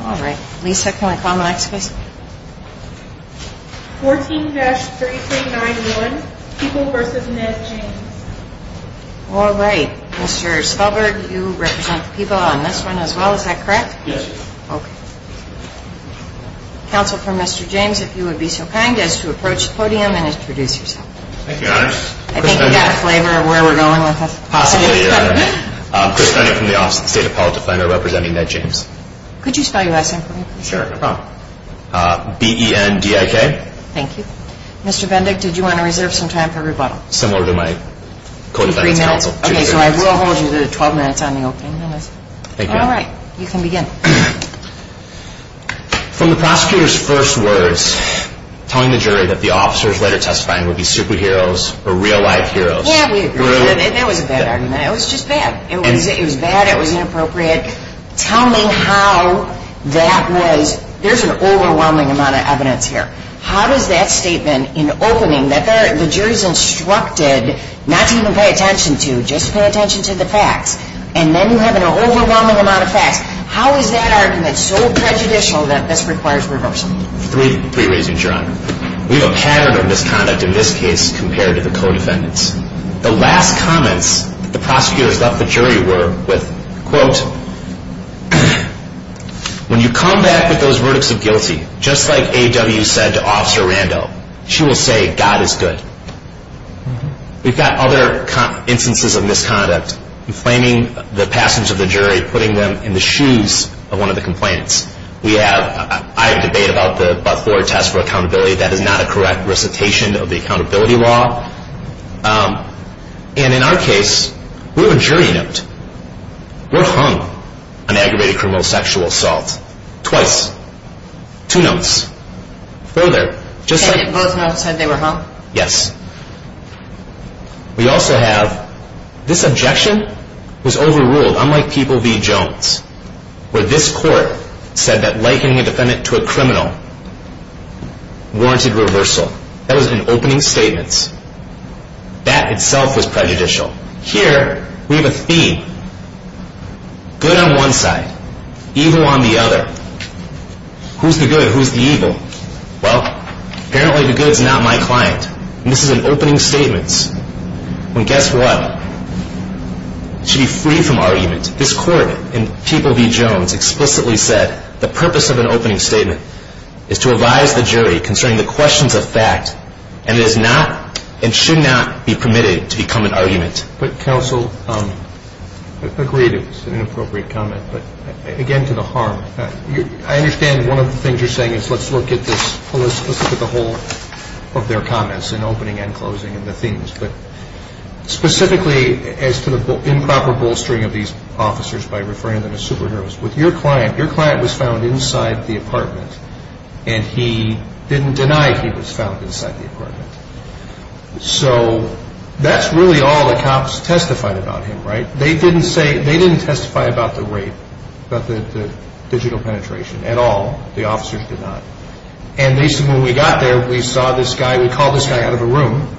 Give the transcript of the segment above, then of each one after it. All right. Lisa, can we call the next case? 14-3391, People v. Ned James. All right. Mr. Spelberg, you represent People on this one as well, is that correct? Yes. Okay. Counsel for Mr. James, if you would be so kind as to approach the podium and introduce yourself. Thank you, Your Honor. I think you've got a flavor of where we're going with this. Possibly, Your Honor. Chris Cunningham from the Office of the State Appellate Defender representing Ned James. Could you spell your last name for me? Sure, no problem. B-E-N-D-I-K. Thank you. Mr. Bendick, did you want to reserve some time for rebuttal? Similar to my co-defense counsel. Okay, so I will hold you to 12 minutes on the opening notice. Thank you. All right. You can begin. From the prosecutor's first words, telling the jury that the officers later testifying would be superheroes or real-life heroes. Yeah, we agree. That was a bad argument. It was just bad. It was bad. It was inappropriate. Tell me how that was – there's an overwhelming amount of evidence here. How does that statement in opening that the jury's instructed not to even pay attention to, just to pay attention to the facts, and then you have an overwhelming amount of facts, how is that argument so prejudicial that this requires reversal? Three reasons, Your Honor. We have a pattern of misconduct in this case compared to the co-defendants. The last comments that the prosecutors left the jury were with, quote, when you come back with those verdicts of guilty, just like A.W. said to Officer Randall, she will say, God is good. We've got other instances of misconduct, inflaming the passage of the jury, putting them in the shoes of one of the complainants. We have – I have a debate about the Buck-Ford test for accountability. That is not a correct recitation of the accountability law. And in our case, we're a jury note. We're hung on aggravated criminal sexual assault, twice, two notes. Further, just like – And both notes said they were hung? Yes. We also have this objection was overruled, unlike people v. Jones, where this court said that likening a defendant to a criminal warranted reversal. That was in opening statements. That itself was prejudicial. Here, we have a theme. Good on one side, evil on the other. Who's the good? Who's the evil? Well, apparently the good's not my client. And this is in opening statements. And guess what? It should be free from argument. This court in people v. Jones explicitly said the purpose of an opening statement is to advise the jury concerning the questions of fact, and it is not and should not be permitted to become an argument. But, counsel, I agree it's an inappropriate comment. But, again, to the harm. I understand one of the things you're saying is let's look at this – let's look at the whole of their comments in opening and closing and the themes. But specifically as to the improper bolstering of these officers by referring to them as superheroes, with your client, your client was found inside the apartment, and he didn't deny he was found inside the apartment. So that's really all the cops testified about him, right? They didn't testify about the rape, about the digital penetration at all. The officers did not. And they said when we got there, we saw this guy. We called this guy out of a room,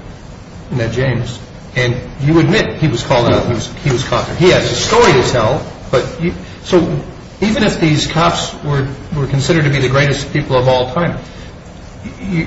Ned James, and you admit he was called out, he was caught. He has a story to tell. So even if these cops were considered to be the greatest people of all time,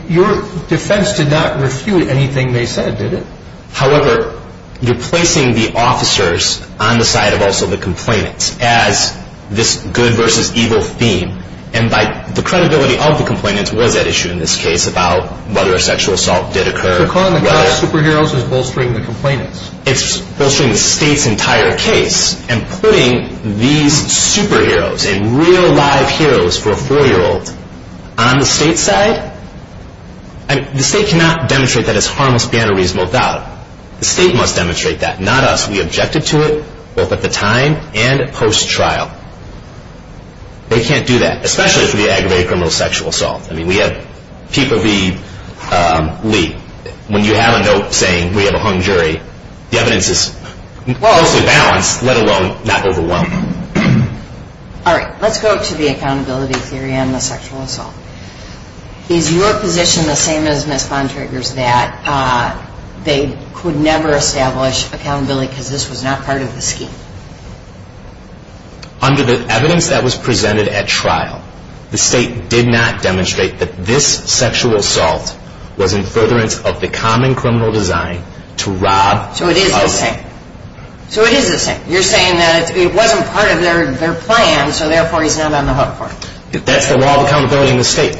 your defense did not refute anything they said, did it? However, you're placing the officers on the side of also the complainants as this good versus evil theme. And the credibility of the complainants was at issue in this case about whether a sexual assault did occur. So calling the cops superheroes is bolstering the complainants. It's bolstering the state's entire case. And putting these superheroes and real live heroes for a 4-year-old on the state's side? The state cannot demonstrate that it's harmless, banal, reasonable doubt. The state must demonstrate that. Not us. We objected to it both at the time and post-trial. They can't do that, especially if we aggravate a criminal sexual assault. I mean, we have people be, when you have a note saying we have a hung jury, the evidence is mostly balanced, let alone not overwhelming. All right. Let's go to the accountability theory on the sexual assault. Is your position the same as Ms. Von Traeger's, that they could never establish accountability because this was not part of the scheme? Under the evidence that was presented at trial, the state did not demonstrate that this sexual assault was in furtherance of the common criminal design to rob. So it is the same. So it is the same. You're saying that it wasn't part of their plan, so therefore he's not on the hook for it. That's the law of accountability in the state.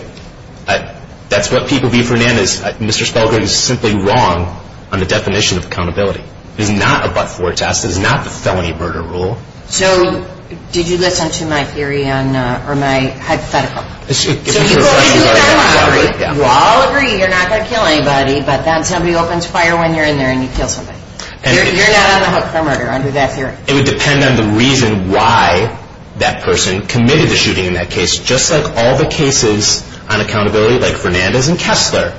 That's what people view Fernandez. Mr. Spelgren is simply wrong on the definition of accountability. It is not a but-for test. It is not the felony murder rule. So did you listen to my theory on, or my hypothetical? So you all agree you're not going to kill anybody, but then somebody opens fire when you're in there and you kill somebody. You're not on the hook for murder under that theory. It would depend on the reason why that person committed the shooting in that case. Just like all the cases on accountability, like Fernandez and Kessler,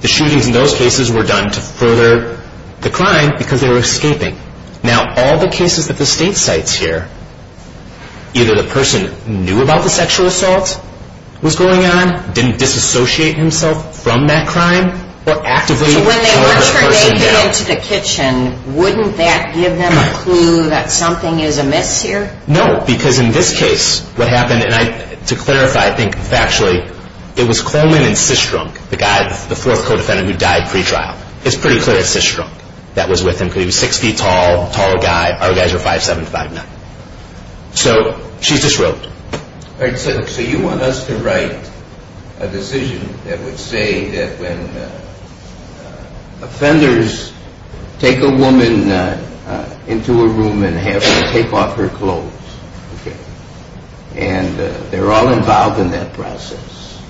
the shootings in those cases were done to further the crime because they were escaping. Now, all the cases that the state cites here, either the person knew about the sexual assault was going on, didn't disassociate himself from that crime, or actively charged the person down. So when they were turning him into the kitchen, wouldn't that give them a clue that something is amiss here? No, because in this case, what happened, and to clarify, I think factually, it was Coleman and Systrunk, the guy, the fourth co-defendant who died pre-trial. It's pretty clear it's Systrunk that was with him because he was 6 feet tall, a tall guy. Our guys were 5'7", 5'9". So she just wrote. So you want us to write a decision that would say that when offenders take a woman into a room and have her take off her clothes, and they're all involved in that process,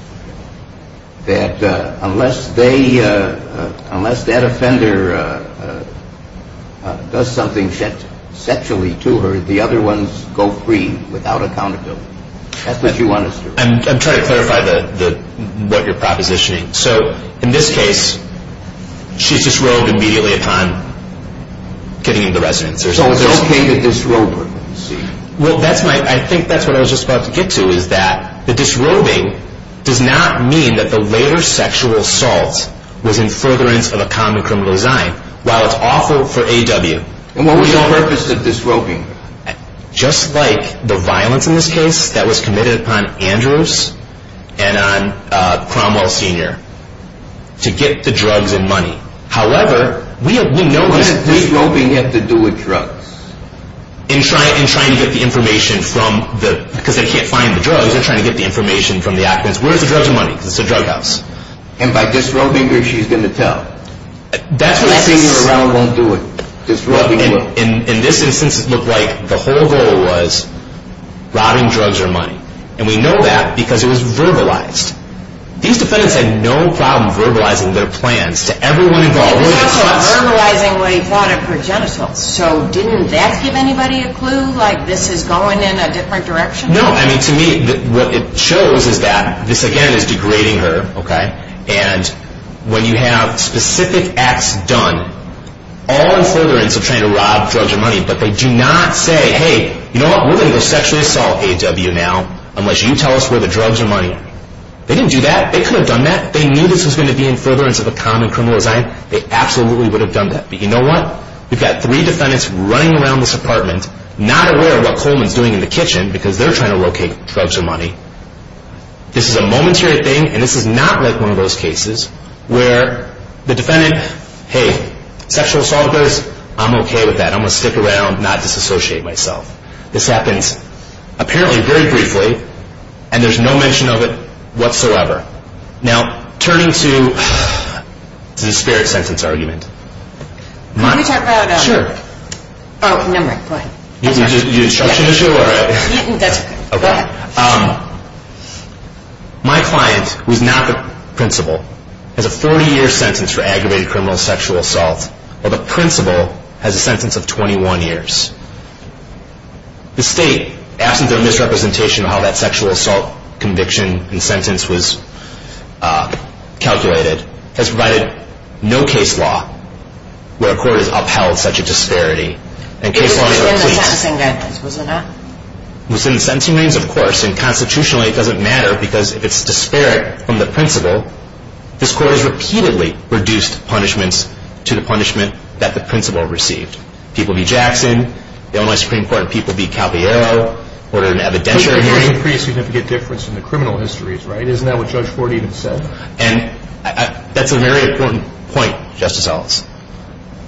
that unless that offender does something sexually to her, that the other ones go free without accountability. That's what you want us to do. I'm trying to clarify what you're propositioning. So in this case, she's disrobed immediately upon getting into the residence. So it's okay to disrobe her, you see. Well, I think that's what I was just about to get to, is that the disrobing does not mean that the later sexual assault was in furtherance of a common criminal design. While it's awful for A.W. And what was the purpose of disrobing? Just like the violence in this case that was committed upon Andrews and on Cromwell Sr. to get the drugs and money. However, we know this. What did disrobing have to do with drugs? In trying to get the information from the, because they can't find the drugs, they're trying to get the information from the occupants. Where's the drugs and money? Because it's a drug house. And by disrobing her, she's going to tell. Disrobing her around won't do it. In this instance, it looked like the whole goal was robbing drugs or money. And we know that because it was verbalized. These defendants had no problem verbalizing their plans to everyone involved. It was also verbalizing what he thought of her genitals. So didn't that give anybody a clue, like this is going in a different direction? No. I mean, to me, what it shows is that this, again, is degrading her. And when you have specific acts done, all in furtherance of trying to rob drugs or money, but they do not say, hey, you know what, we're going to go sexually assault AW now unless you tell us where the drugs or money are. They didn't do that. They could have done that. They knew this was going to be in furtherance of a common criminal design. They absolutely would have done that. But you know what? We've got three defendants running around this apartment, because they're trying to locate drugs or money. This is a momentary thing, and this is not like one of those cases where the defendant, hey, sexual assault goes, I'm okay with that. I'm going to stick around and not disassociate myself. This happens, apparently, very briefly, and there's no mention of it whatsoever. Now, turning to the spirit sentence argument. Can we talk about... Sure. Oh, never mind. Go ahead. Do you need an instruction to show? That's okay. Okay. My client, who is not the principal, has a 40-year sentence for aggravated criminal sexual assault, while the principal has a sentence of 21 years. The state, absent their misrepresentation of how that sexual assault conviction and sentence was calculated, has provided no case law where a court has upheld such a disparity. It was in the sentencing records, was it not? It was in the sentencing records, of course, and constitutionally it doesn't matter because if it's disparate from the principal, this court has repeatedly reduced punishments to the punishment that the principal received. People beat Jackson. The only Supreme Court people beat Calviero. There's a pretty significant difference in the criminal histories, right? Isn't that what Judge Ford even said? And that's a very important point, Justice Eltz.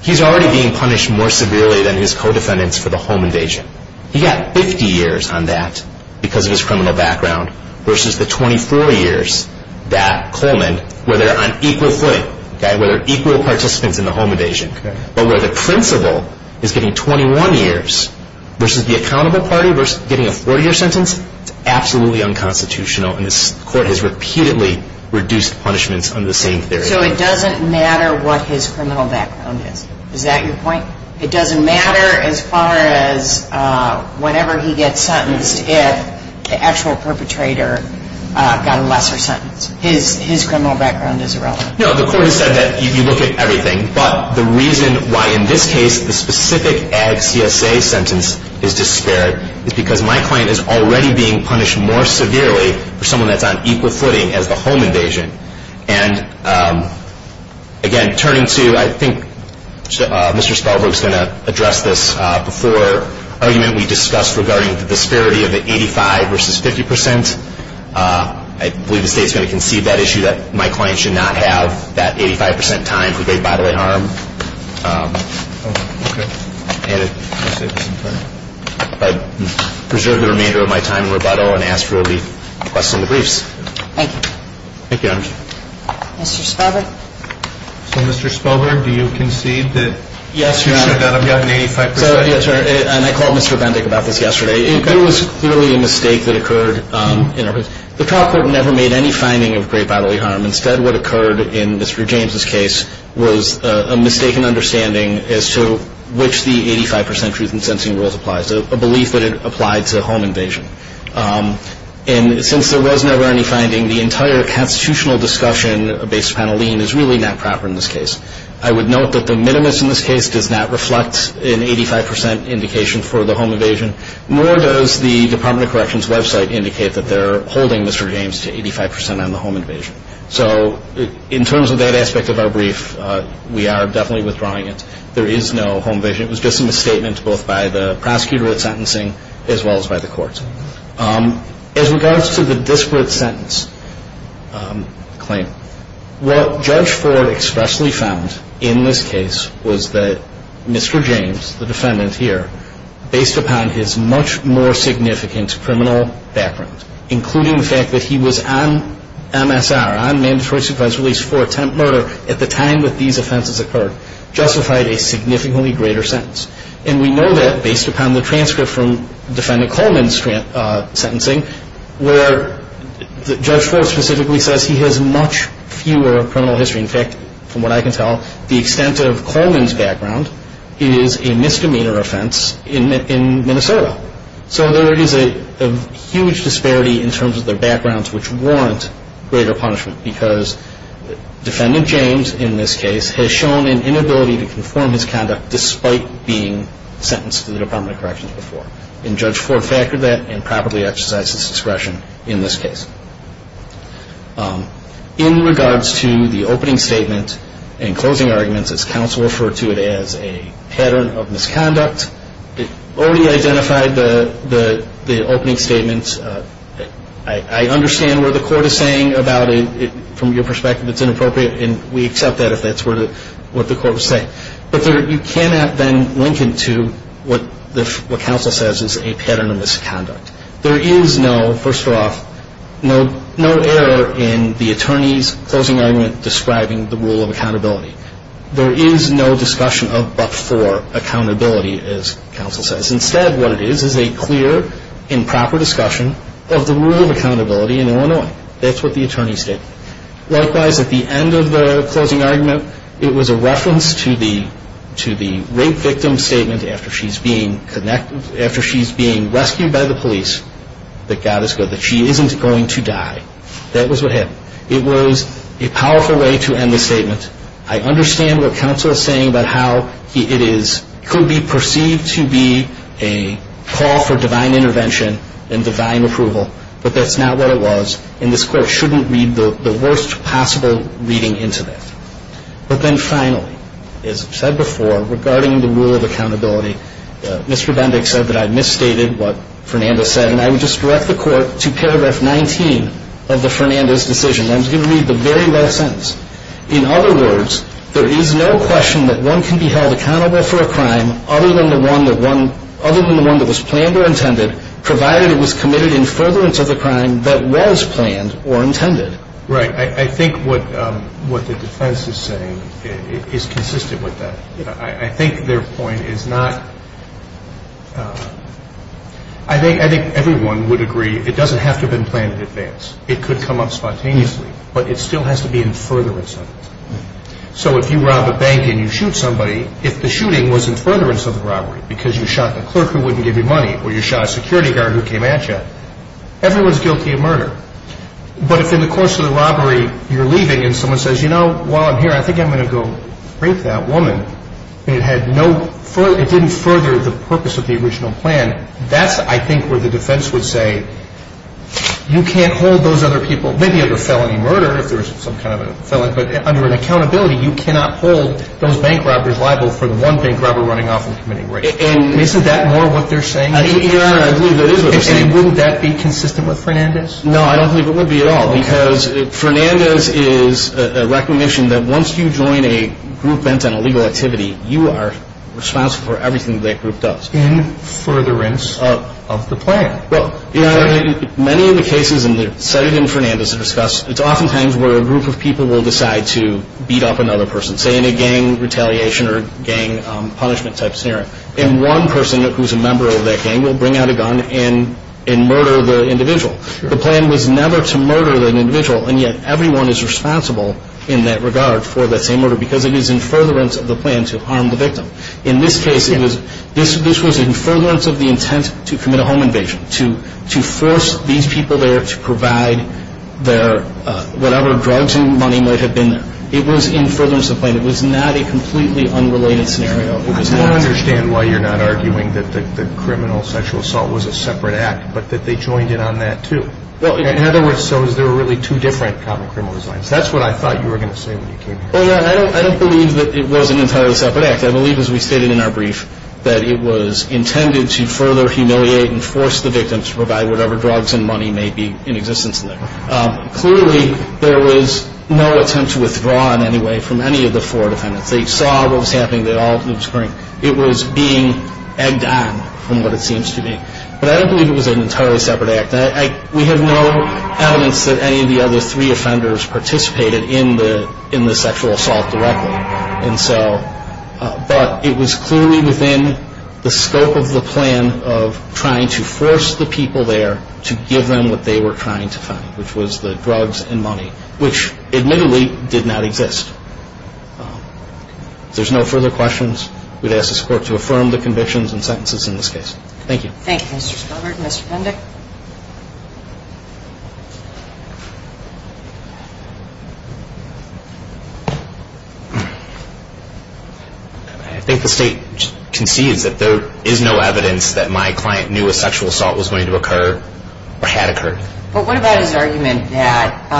He's already being punished more severely than his co-defendants for the home invasion. He got 50 years on that because of his criminal background versus the 24 years that Coleman, where they're on equal footing, where they're equal participants in the home invasion. But where the principal is getting 21 years versus the accountable party, versus getting a 40-year sentence, it's absolutely unconstitutional, and this court has repeatedly reduced punishments under the same theory. So it doesn't matter what his criminal background is. Is that your point? It doesn't matter as far as whenever he gets sentenced, if the actual perpetrator got a lesser sentence. His criminal background is irrelevant. No, the court has said that you look at everything, but the reason why in this case the specific ag CSA sentence is disparate is because my client is already being punished more severely for someone that's on equal footing as the home invasion. And again, turning to, I think Mr. Spellbrook's going to address this before, argument we discussed regarding the disparity of the 85 versus 50 percent. I believe the State's going to concede that issue, that my client should not have that 85 percent time for grave bodily harm. Okay. And if I preserve the remainder of my time in rebuttal and ask for the request in the briefs. Thank you. Thank you, Your Honor. Mr. Spellbrook. So, Mr. Spellbrook, do you concede that issue should not have gotten 85 percent? Yes, Your Honor. And I called Mr. Bendick about this yesterday. There was clearly a mistake that occurred. The trial court never made any finding of grave bodily harm. Instead, what occurred in Mr. James' case was a mistaken understanding as to which the 85 percent truth in sentencing rules applies, a belief that it applied to home invasion. And since there was never any finding, the entire constitutional discussion based upon a lien is really not proper in this case. I would note that the minimus in this case does not reflect an 85 percent indication for the home invasion, nor does the Department of Corrections website indicate that they're holding Mr. James to 85 percent on the home invasion. So, in terms of that aspect of our brief, we are definitely withdrawing it. There is no home invasion. It was just a misstatement both by the prosecutor at sentencing as well as by the courts. As regards to the disparate sentence claim, what Judge Ford expressly found in this case was that Mr. James, the defendant here, based upon his much more significant criminal background, including the fact that he was on MSR, on mandatory supposed release for attempt murder, at the time that these offenses occurred, justified a significantly greater sentence. And we know that based upon the transcript from Defendant Coleman's sentencing, where Judge Ford specifically says he has much fewer criminal history. In fact, from what I can tell, the extent of Coleman's background is a misdemeanor offense in Minnesota. So there is a huge disparity in terms of their backgrounds which warrant greater punishment because Defendant James, in this case, has shown an inability to conform his conduct despite being sentenced to the Department of Corrections before. And Judge Ford factored that and properly exercised his discretion in this case. In regards to the opening statement and closing arguments, as counsel referred to it as a pattern of misconduct, it already identified the opening statement. I understand what the court is saying about it from your perspective. It's inappropriate, and we accept that if that's what the court was saying. But you cannot then link it to what counsel says is a pattern of misconduct. There is no, first off, no error in the attorney's closing argument describing the rule of accountability. There is no discussion of but-for accountability, as counsel says. Instead, what it is is a clear and proper discussion of the rule of accountability in Illinois. That's what the attorney stated. Likewise, at the end of the closing argument, it was a reference to the rape victim's statement after she's being rescued by the police that God is good, that she isn't going to die. That was what happened. It was a powerful way to end the statement. I understand what counsel is saying about how it could be perceived to be a call for divine intervention and divine approval, but that's not what it was, and this court shouldn't read the worst possible reading into that. But then finally, as I've said before, regarding the rule of accountability, Mr. Bendick said that I misstated what Fernandez said, and I would just direct the court to paragraph 19 of the Fernandez decision. I'm just going to read the very last sentence. In other words, there is no question that one can be held accountable for a crime other than the one that was planned or intended, provided it was committed in furtherance of the crime that was planned or intended. Right. I think what the defense is saying is consistent with that. I think their point is not – I think everyone would agree it doesn't have to have been planned in advance. It could come up spontaneously, but it still has to be in furtherance of it. So if you rob a bank and you shoot somebody, if the shooting was in furtherance of the robbery because you shot the clerk who wouldn't give you money or you shot a security guard who came at you, everyone's guilty of murder. But if in the course of the robbery you're leaving and someone says, you know, while I'm here I think I'm going to go rape that woman, and it had no – it didn't further the purpose of the original plan, that's, I think, where the defense would say you can't hold those other people, maybe of a felony murder if there was some kind of a felony, but under an accountability you cannot hold those bank robbers liable for the one bank robber running off and committing rape. Isn't that more what they're saying? Your Honor, I believe that is what they're saying. And wouldn't that be consistent with Fernandez? No, I don't believe it would be at all because Fernandez is a recognition that once you join a group bent on illegal activity, you are responsible for everything that group does. That's in furtherance of the plan. Well, Your Honor, many of the cases cited in Fernandez discuss, it's oftentimes where a group of people will decide to beat up another person, say in a gang retaliation or gang punishment type scenario, and one person who's a member of that gang will bring out a gun and murder the individual. The plan was never to murder an individual, and yet everyone is responsible in that regard for that same murder because it is in furtherance of the plan to harm the victim. In this case, this was in furtherance of the intent to commit a home invasion, to force these people there to provide their whatever drugs and money might have been there. It was in furtherance of the plan. It was not a completely unrelated scenario. I don't understand why you're not arguing that criminal sexual assault was a separate act but that they joined in on that too. In other words, so there were really two different common criminal designs. That's what I thought you were going to say when you came here. Well, Your Honor, I don't believe that it was an entirely separate act. I believe, as we stated in our brief, that it was intended to further humiliate and force the victim to provide whatever drugs and money may be in existence there. Clearly, there was no attempt to withdraw in any way from any of the four defendants. They saw what was happening. It was being egged on from what it seems to be. But I don't believe it was an entirely separate act. We have no evidence that any of the other three offenders participated in the sexual assault directly. But it was clearly within the scope of the plan of trying to force the people there to give them what they were trying to find, which was the drugs and money, which admittedly did not exist. If there's no further questions, we'd ask the Court to affirm the convictions and sentences in this case. Thank you. Thank you, Mr. Spobart. Thank you, Mr. Pendeck. I think the State concedes that there is no evidence that my client knew a sexual assault was going to occur or had occurred. But what about his argument that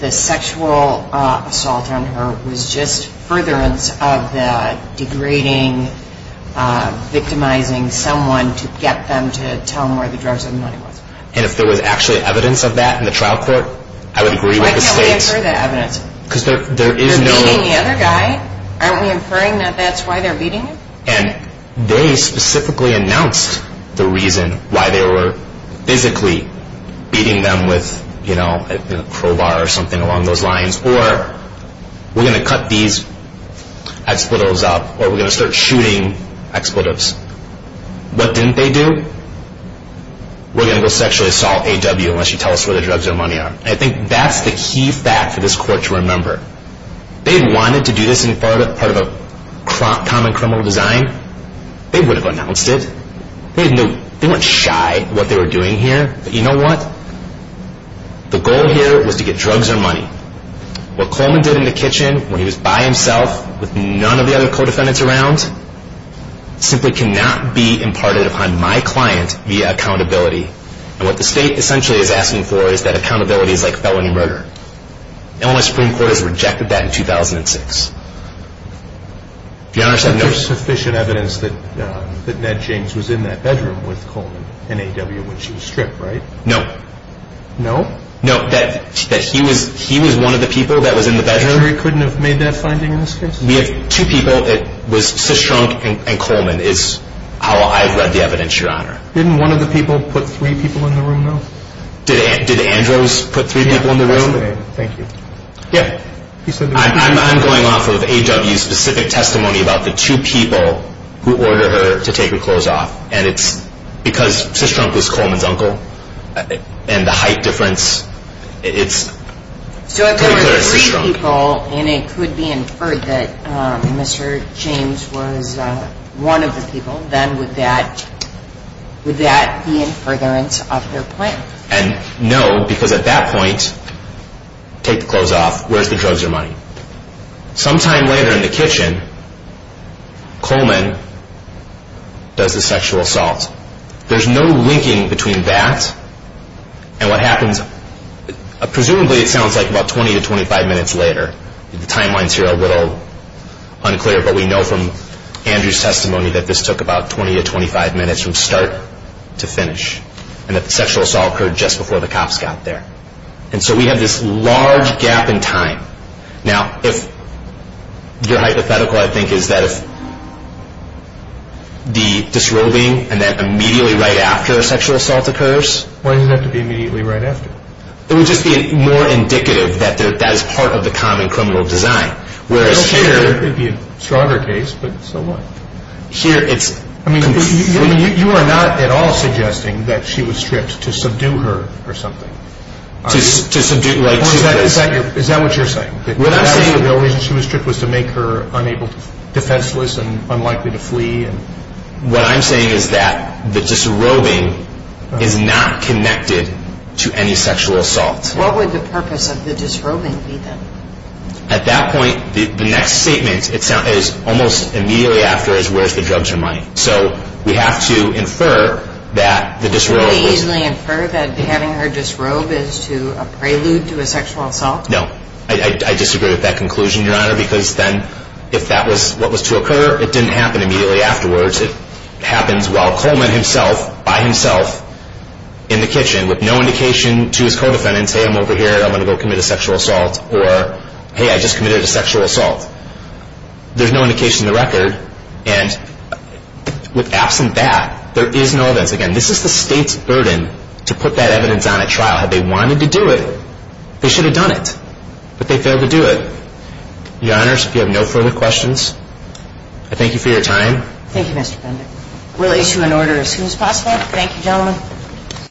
the sexual assault on her was just furtherance of the degrading, victimizing someone to get them to tell them where the drugs and money was? And if there was actually evidence of that in the trial court, I would agree with the State. Why can't we infer that evidence? Because there is no... They're beating the other guy. Aren't we inferring that that's why they're beating him? And they specifically announced the reason why they were physically beating them with, you know, a crowbar or something along those lines. Or, we're going to cut these expletives up, or we're going to start shooting expletives. What didn't they do? We're going to go sexually assault AW unless she tells us where the drugs or money are. And I think that's the key fact for this Court to remember. They wanted to do this in part of a common criminal design. They would have announced it. They went shy in what they were doing here. But you know what? The goal here was to get drugs or money. What Coleman did in the kitchen when he was by himself with none of the other co-defendants around simply cannot be imparted upon my client via accountability. And what the State essentially is asking for is that accountability is like felony murder. Illinois Supreme Court has rejected that in 2006. If you'll notice... But there's sufficient evidence that Ned James was in that bedroom with Coleman and AW when she was stripped, right? No. No? No, that he was one of the people that was in the bedroom. The jury couldn't have made that finding in this case? We have two people. It was Cistrunk and Coleman is how I've read the evidence, Your Honor. Didn't one of the people put three people in the room, though? Did Andros put three people in the room? Yes, he did. Thank you. I'm going off of AW's specific testimony about the two people who order her to take her clothes off. And it's because Cistrunk was Coleman's uncle and the height difference, it's pretty clear it's Cistrunk. So if there were three people and it could be inferred that Mr. James was one of the people, then would that be in furtherance of their plan? And no, because at that point, take the clothes off, where's the drugs or money? Sometime later in the kitchen, Coleman does the sexual assault. There's no linking between that and what happens presumably it sounds like about 20 to 25 minutes later. The timeline's here a little unclear, but we know from Andrew's testimony that this took about 20 to 25 minutes from start to finish, and that the sexual assault occurred just before the cops got there. And so we have this large gap in time. Now, if your hypothetical, I think, is that if the disrobing and then immediately right after a sexual assault occurs? Why does it have to be immediately right after? It would just be more indicative that that is part of the common criminal design. I don't care. It could be a stronger case, but so what? I mean, you are not at all suggesting that she was stripped to subdue her or something? Is that what you're saying? What I'm saying is that the only reason she was stripped was to make her defenseless and unlikely to flee? What I'm saying is that the disrobing is not connected to any sexual assault. What would the purpose of the disrobing be then? At that point, the next statement is almost immediately after is, where's the drugs or money? So we have to infer that the disrobe was... Could we easily infer that having her disrobed is to a prelude to a sexual assault? No. I disagree with that conclusion, Your Honor, because then if that was what was to occur, it didn't happen immediately afterwards. It happens while Coleman himself, by himself, in the kitchen with no indication to his co-defendants, hey, I'm over here, I'm going to go commit a sexual assault, or hey, I just committed a sexual assault. There's no indication in the record. And absent that, there is no evidence. Again, this is the state's burden to put that evidence on at trial. Had they wanted to do it, they should have done it. But they failed to do it. Your Honors, if you have no further questions, I thank you for your time. Thank you, Mr. Bender. We'll issue an order as soon as possible. Thank you, gentlemen.